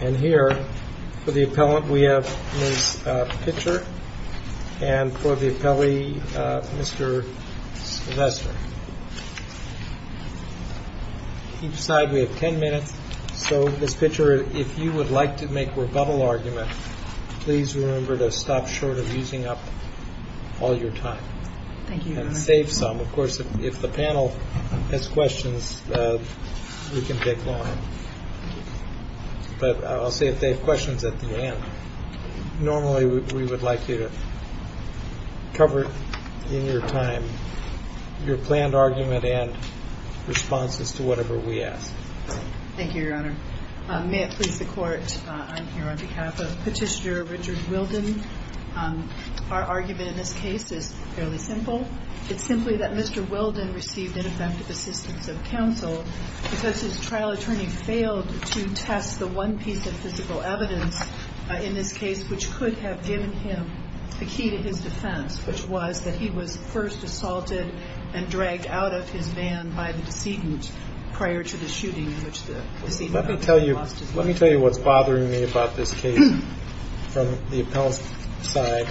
And here, for the appellant, we have Ms. Pitcher and for the appellee, Mr. Silvester. Each side, we have 10 minutes. So, Ms. Pitcher, if you would like to make a rebuttal argument, please remember to stop short of using up all your time and save some. Of course, if the panel has questions, we can take them on. But I'll see if they have questions at the end. Normally, we would like you to cover in your time your planned argument and responses to whatever we ask. Thank you, Your Honor. May it please the Court, I'm here on behalf of Petitioner Richard Wildin. Our argument in this case is fairly simple. It's simply that Mr. Wildin received ineffective assistance of counsel because his trial attorney failed to test the one piece of physical evidence in this case which could have given him the key to his defense, which was that he was first assaulted and dragged out of his van by the decedent prior to the shooting, in which the decedent lost his life. Let me tell you what's bothering me about this case from the appellant's side.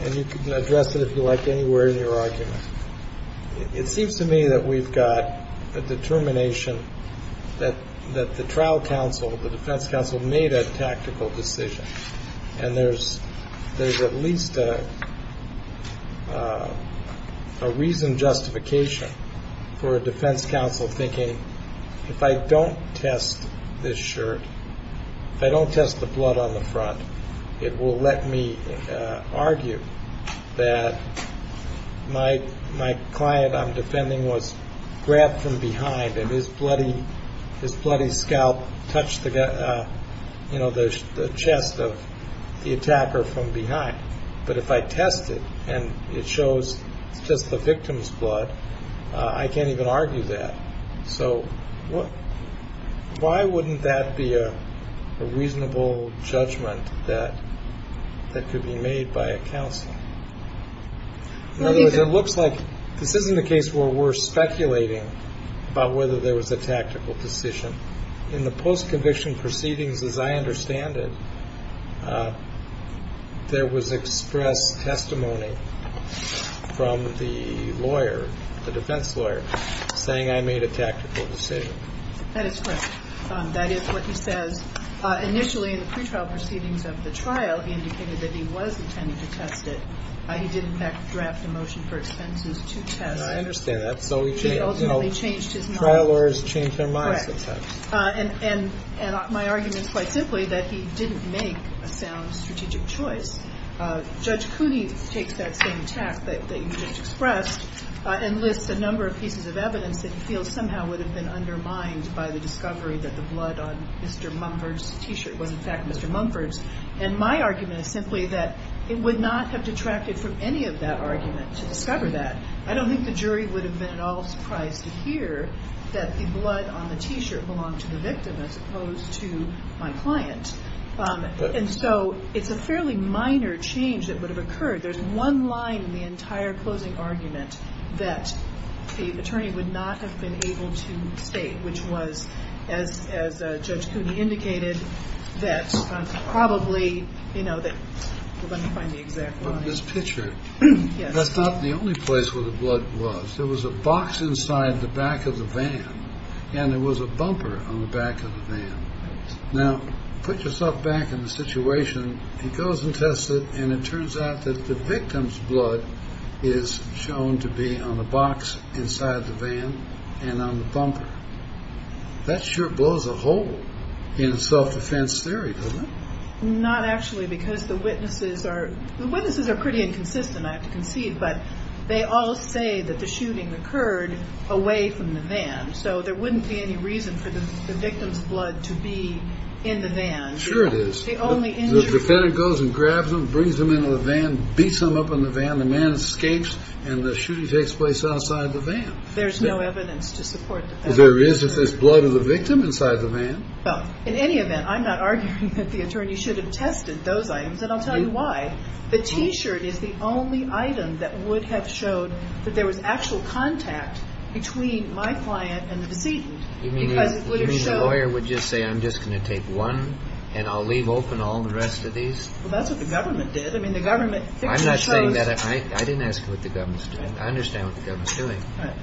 And you can address it if you like anywhere in your argument. It seems to me that we've got a determination that the trial counsel, the defense counsel, made a tactical decision. And there's at least a reasoned justification for a defense counsel thinking, if I don't test this shirt, if I don't test the blood on the front, it will let me argue that my client I'm defending was grabbed from behind and his bloody scalp touched the chest of the attacker from behind. But if I test it and it shows just the victim's blood, I can't even argue that. So why wouldn't that be a reasonable judgment that could be made by a counsel? In other words, it looks like this isn't a case where we're speculating about whether there was a tactical decision. In the post-conviction proceedings, as I understand it, there was expressed testimony from the lawyer, the defense lawyer, saying I made a tactical decision. That is correct. That is what he says. Initially, in the pretrial proceedings of the trial, he indicated that he was intending to test it. He did, in fact, draft the motion for expenses to test. I understand that. So he ultimately changed his mind. Trial lawyers change their minds sometimes. And my argument is quite simply that he didn't make a sound strategic choice. Judge Cooney takes that same attack that you just expressed and lists a number of pieces of evidence that he feels somehow would have been undermined by the discovery that the blood on Mr. Mumford's T-shirt was, in fact, Mr. Mumford's. And my argument is simply that it would not have detracted from any of that argument to discover that. I don't think the jury would have been at all surprised to hear that the blood on the T-shirt belonged to the victim as opposed to my client. And so it's a fairly minor change that would have occurred. There's one line in the entire closing argument that the attorney would not have been able to state, which was, as Judge Cooney indicated, that probably, you know, let me find the exact line. That's not the only place where the blood was. There was a box inside the back of the van, and there was a bumper on the back of the van. Now, put yourself back in the situation. He goes and tests it, and it turns out that the victim's blood is shown to be on the box inside the van and on the bumper. That sure blows a hole in self-defense theory, doesn't it? Not actually, because the witnesses are pretty inconsistent, I have to concede, but they all say that the shooting occurred away from the van, so there wouldn't be any reason for the victim's blood to be in the van. Sure it is. The defendant goes and grabs him, brings him into the van, beats him up in the van, the man escapes, and the shooting takes place outside the van. There's no evidence to support that. There is if there's blood of the victim inside the van. Well, in any event, I'm not arguing that the attorney should have tested those items, and I'll tell you why. The T-shirt is the only item that would have showed that there was actual contact between my client and the decedent. You mean the lawyer would just say, I'm just going to take one, and I'll leave open all the rest of these? Well, that's what the government did. I mean, the government picked and chose. I'm not saying that. I didn't ask what the government's doing. I understand what the government's doing.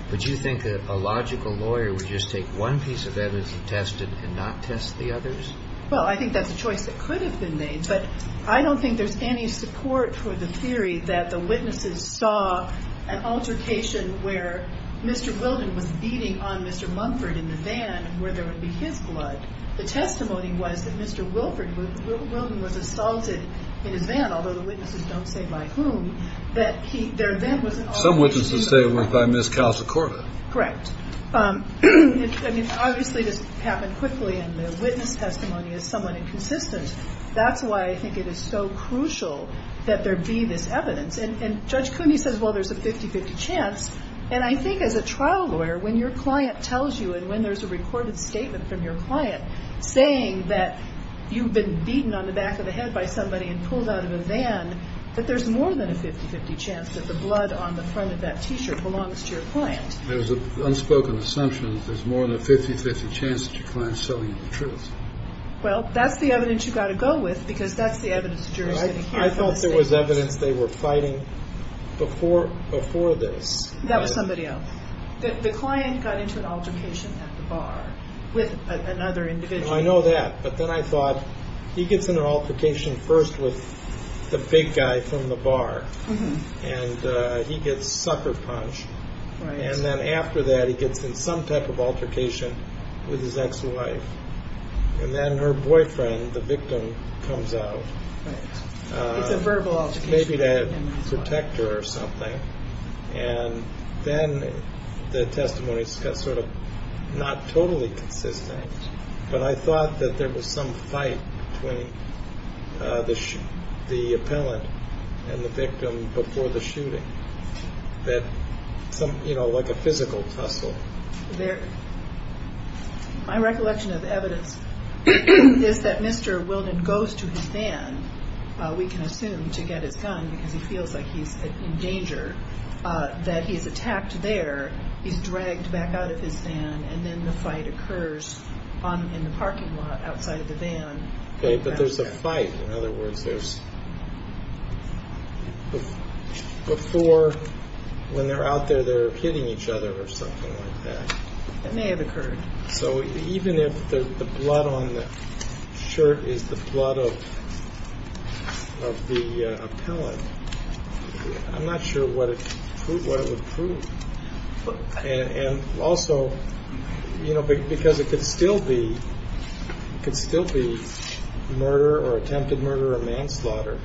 But you think that a logical lawyer would just take one piece of evidence he tested and not test the others? Well, I think that's a choice that could have been made, but I don't think there's any support for the theory that the witnesses saw an altercation where Mr. Wilden was beating on Mr. Mumford in the van where there would be his blood. The testimony was that Mr. Wilden was assaulted in his van, although the witnesses don't say by whom. Some witnesses say it was by Ms. Casa Cordo. Correct. I mean, obviously this happened quickly, and the witness testimony is somewhat inconsistent. That's why I think it is so crucial that there be this evidence. And Judge Cooney says, well, there's a 50-50 chance. And I think as a trial lawyer, when your client tells you, and when there's a recorded statement from your client saying that you've been beaten on the back of the head by somebody and pulled out of a van, that there's more than a 50-50 chance that the blood on the front of that T-shirt belongs to your client. There's an unspoken assumption that there's more than a 50-50 chance that your client is telling you the truth. Well, that's the evidence you've got to go with because that's the evidence that you're going to hear. I thought there was evidence they were fighting before this. That was somebody else. The client got into an altercation at the bar with another individual. I know that. But then I thought he gets in an altercation first with the big guy from the bar, and he gets sucker punched. And then after that, he gets in some type of altercation with his ex-wife. And then her boyfriend, the victim, comes out. It's a verbal altercation. Maybe to protect her or something. And then the testimony is sort of not totally consistent. But I thought that there was some fight between the appellant and the victim before the shooting, like a physical tussle. My recollection of evidence is that Mr. Wilden goes to his van, we can assume, to get his gun because he feels like he's in danger. That he's attacked there, he's dragged back out of his van, and then the fight occurs in the parking lot outside of the van. Okay, but there's a fight. In other words, before, when they're out there, they're hitting each other or something like that. It may have occurred. So even if the blood on the shirt is the blood of the appellant, I'm not sure what it would prove. And also, because it could still be murder or attempted murder or manslaughter,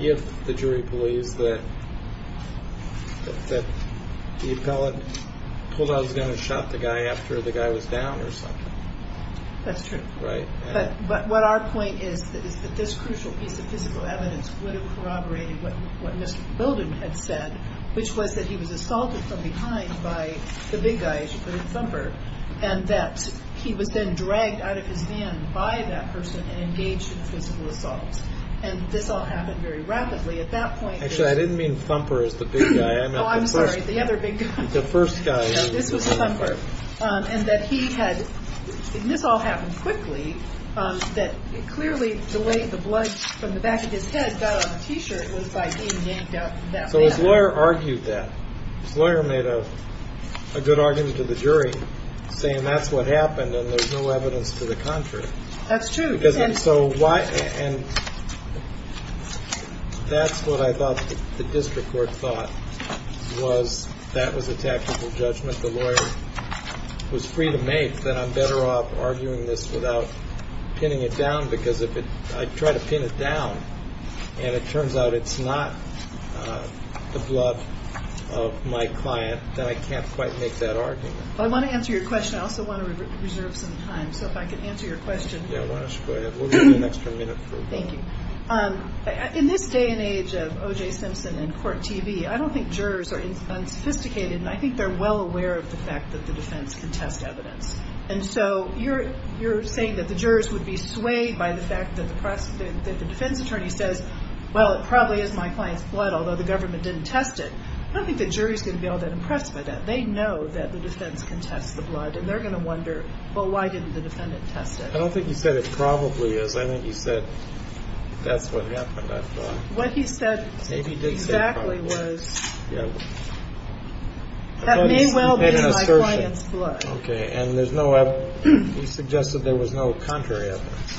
if the jury believes that the appellant pulled out his gun and shot the guy after the guy was down or something. That's true. But what our point is that this crucial piece of physical evidence would have corroborated what Mr. Wilden had said, which was that he was assaulted from behind by the big guy, as you put it, Thumper, and that he was then dragged out of his van by that person and engaged in physical assault. And this all happened very rapidly. At that point, it was... Actually, I didn't mean Thumper as the big guy. Oh, I'm sorry. The other big guy. The first guy. This was Thumper. And that he had, and this all happened quickly, that clearly the way the blood from the back of his head got on the T-shirt was by being yanked out from that van. So his lawyer argued that. His lawyer made a good argument to the jury, saying that's what happened and there's no evidence to the contrary. That's true. And that's what I thought the district court thought was that was a tactical judgment the lawyer was free to make, that I'm better off arguing this without pinning it down because if I try to pin it down and it turns out it's not the blood of my client, then I can't quite make that argument. I want to answer your question. I also want to reserve some time. So if I can answer your question. Yeah, why don't you go ahead. We'll give you an extra minute. Thank you. In this day and age of OJ Simpson and Court TV, I don't think jurors are unsophisticated, and I think they're well aware of the fact that the defense can test evidence. And so you're saying that the jurors would be swayed by the fact that the defense attorney says, well, it probably is my client's blood, although the government didn't test it. I don't think the jury's going to be all that impressed by that. They know that the defense can test the blood, and they're going to wonder, well, why didn't the defendant test it? I don't think you said it probably is. I think you said that's what happened. What he said exactly was that may well be my client's blood. Okay, and there's no evidence. He suggested there was no contrary evidence.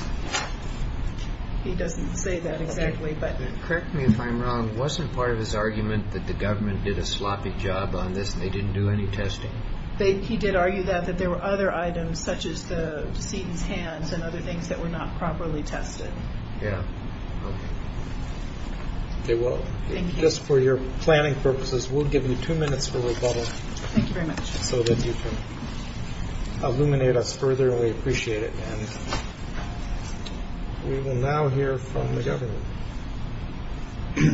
He doesn't say that exactly, but. Correct me if I'm wrong. Wasn't part of his argument that the government did a sloppy job on this and they didn't do any testing? He did argue that, that there were other items, such as the decedent's hands and other things that were not properly tested. Yeah, okay. Okay, well, just for your planning purposes, we'll give you two minutes for rebuttal. Thank you very much. So that you can illuminate us further, and we appreciate it. And we will now hear from the government.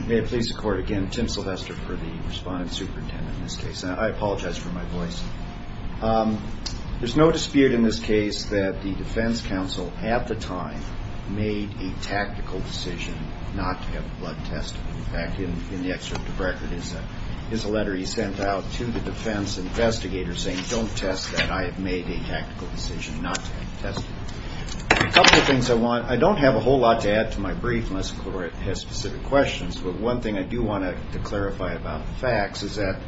May it please the Court, again, Tim Sylvester for the responding superintendent in this case. I apologize for my voice. There's no dispute in this case that the defense counsel at the time made a tactical decision not to have blood tested. In fact, in the excerpt of the record is a letter he sent out to the defense investigators saying, don't test that, I have made a tactical decision not to have it tested. A couple of things I want, I don't have a whole lot to add to my brief unless the Court has specific questions, but one thing I do want to clarify about the facts is that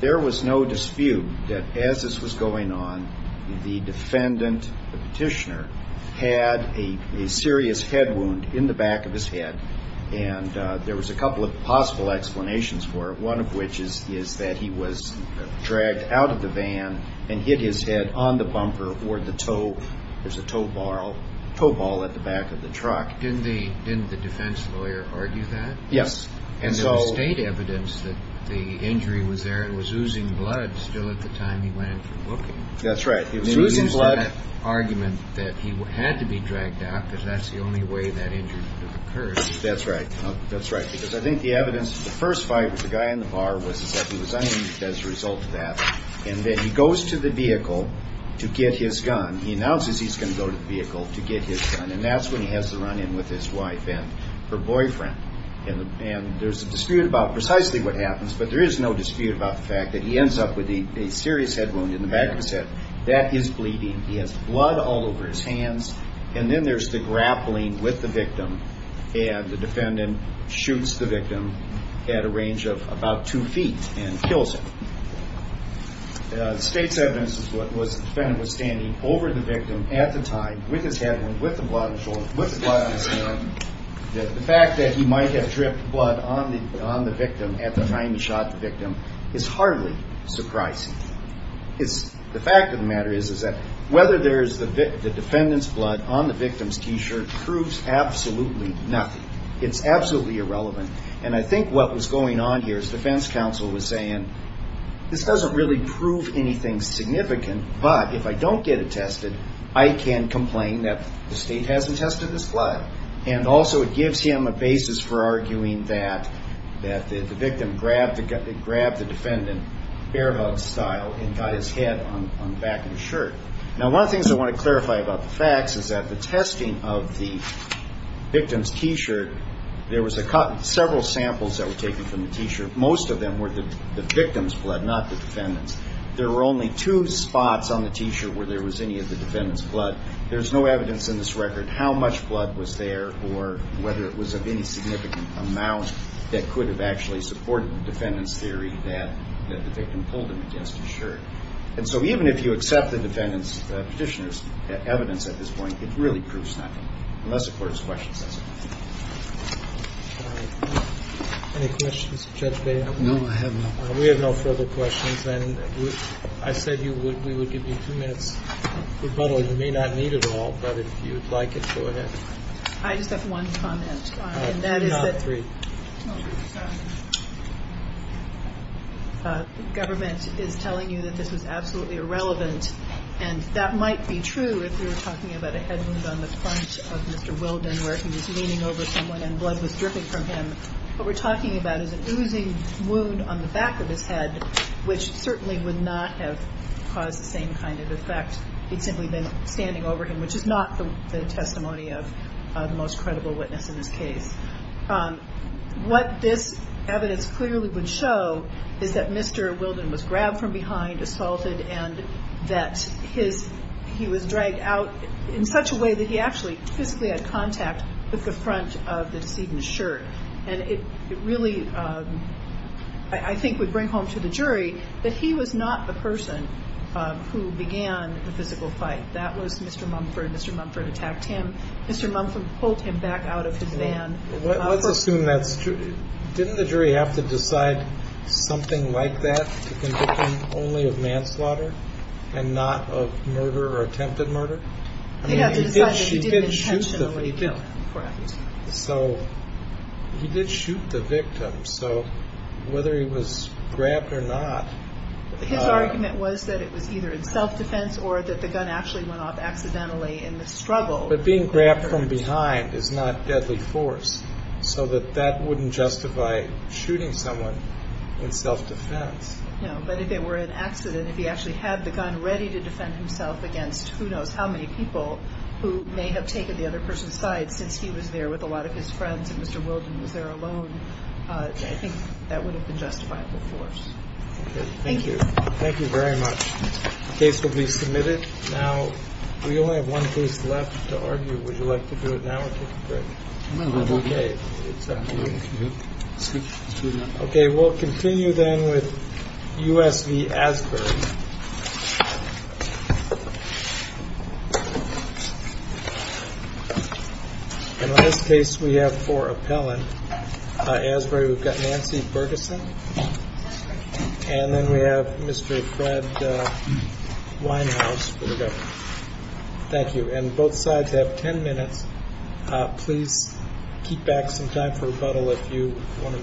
there was no dispute that as this was going on, the defendant, the petitioner, had a serious head wound in the back of his head. And there was a couple of possible explanations for it. One of which is that he was dragged out of the van and hit his head on the bumper or the toe. There's a toe ball at the back of the truck. Didn't the defense lawyer argue that? Yes. And there was state evidence that the injury was there. It was oozing blood still at the time he went in for booking. That's right. It was oozing blood. He used that argument that he had to be dragged out because that's the only way that injury occurs. That's right. That's right. Because I think the evidence, the first fight with the guy in the bar was that he was uninjured as a result of that. And then he goes to the vehicle to get his gun. He announces he's going to go to the vehicle to get his gun. And that's when he has the run-in with his wife and her boyfriend. And there's a dispute about precisely what happens, but there is no dispute about the fact that he ends up with a serious head wound in the back of his head. That is bleeding. He has blood all over his hands. And then there's the grappling with the victim, and the defendant shoots the victim at a range of about two feet and kills him. The state's evidence was the defendant was standing over the victim at the time with his head wound, with the blood on his shoulder, with the blood on his hand. The fact that he might have dripped blood on the victim at the time he shot the victim is hardly surprising. The fact of the matter is that whether there's the defendant's blood on the victim's T-shirt proves absolutely nothing. It's absolutely irrelevant. And I think what was going on here is the defense counsel was saying, this doesn't really prove anything significant, but if I don't get it tested, I can complain that the state hasn't tested his blood. And also it gives him a basis for arguing that the victim grabbed the defendant, bear hug style, and got his head on the back of his shirt. Now, one of the things I want to clarify about the facts is that the testing of the victim's T-shirt, there was several samples that were taken from the T-shirt. Most of them were the victim's blood, not the defendant's. There were only two spots on the T-shirt where there was any of the defendant's blood. There's no evidence in this record how much blood was there or whether it was of any significant amount that could have actually supported the defendant's theory that the victim pulled him against his shirt. And so even if you accept the defendant's petitioner's evidence at this point, it really proves nothing, unless the court has questions as to that. Any questions of Judge Bailiff? No, I have no further questions. We have no further questions. And I said we would give you two minutes rebuttal. You may not need it all, but if you'd like it, go ahead. I just have one comment. And that is that the government is telling you that this was absolutely irrelevant, and that might be true if you're talking about a head wound on the front of Mr. Wilden where he was leaning over someone and blood was dripping from him. What we're talking about is an oozing wound on the back of his head, which certainly would not have caused the same kind of effect. He'd simply been standing over him, which is not the testimony of the most credible witness in this case. What this evidence clearly would show is that Mr. Wilden was grabbed from behind, assaulted, and that he was dragged out in such a way that he actually physically had contact with the front of the decedent's shirt. And it really, I think, would bring home to the jury that he was not the person who began the physical fight. That was Mr. Mumford. Mr. Mumford attacked him. Mr. Mumford pulled him back out of his van. Let's assume that's true. Didn't the jury have to decide something like that to convict him only of manslaughter and not of murder or attempted murder? They had to decide that he didn't intentionally do it. So he did shoot the victim. So whether he was grabbed or not... His argument was that it was either in self-defense or that the gun actually went off accidentally in the struggle. But being grabbed from behind is not deadly force, so that that wouldn't justify shooting someone in self-defense. No, but if it were an accident, if he actually had the gun ready to defend himself against who knows how many people who may have taken the other person's side since he was there with a lot of his friends and Mr. Wilden was there alone, I think that would have been justifiable force. Okay, thank you. Thank you very much. The case will be submitted. Now, we only have one case left to argue. Would you like to do it now or take a break? No, I'd like to do it now. Okay. Okay, we'll continue then with U.S. v. Asbury. In this case, we have four appellant. Asbury, we've got Nancy Bergeson. And then we have Mr. Fred Winehouse. There we go. Thank you. And both sides have ten minutes. Please keep back some time for rebuttal if you want to make a motion.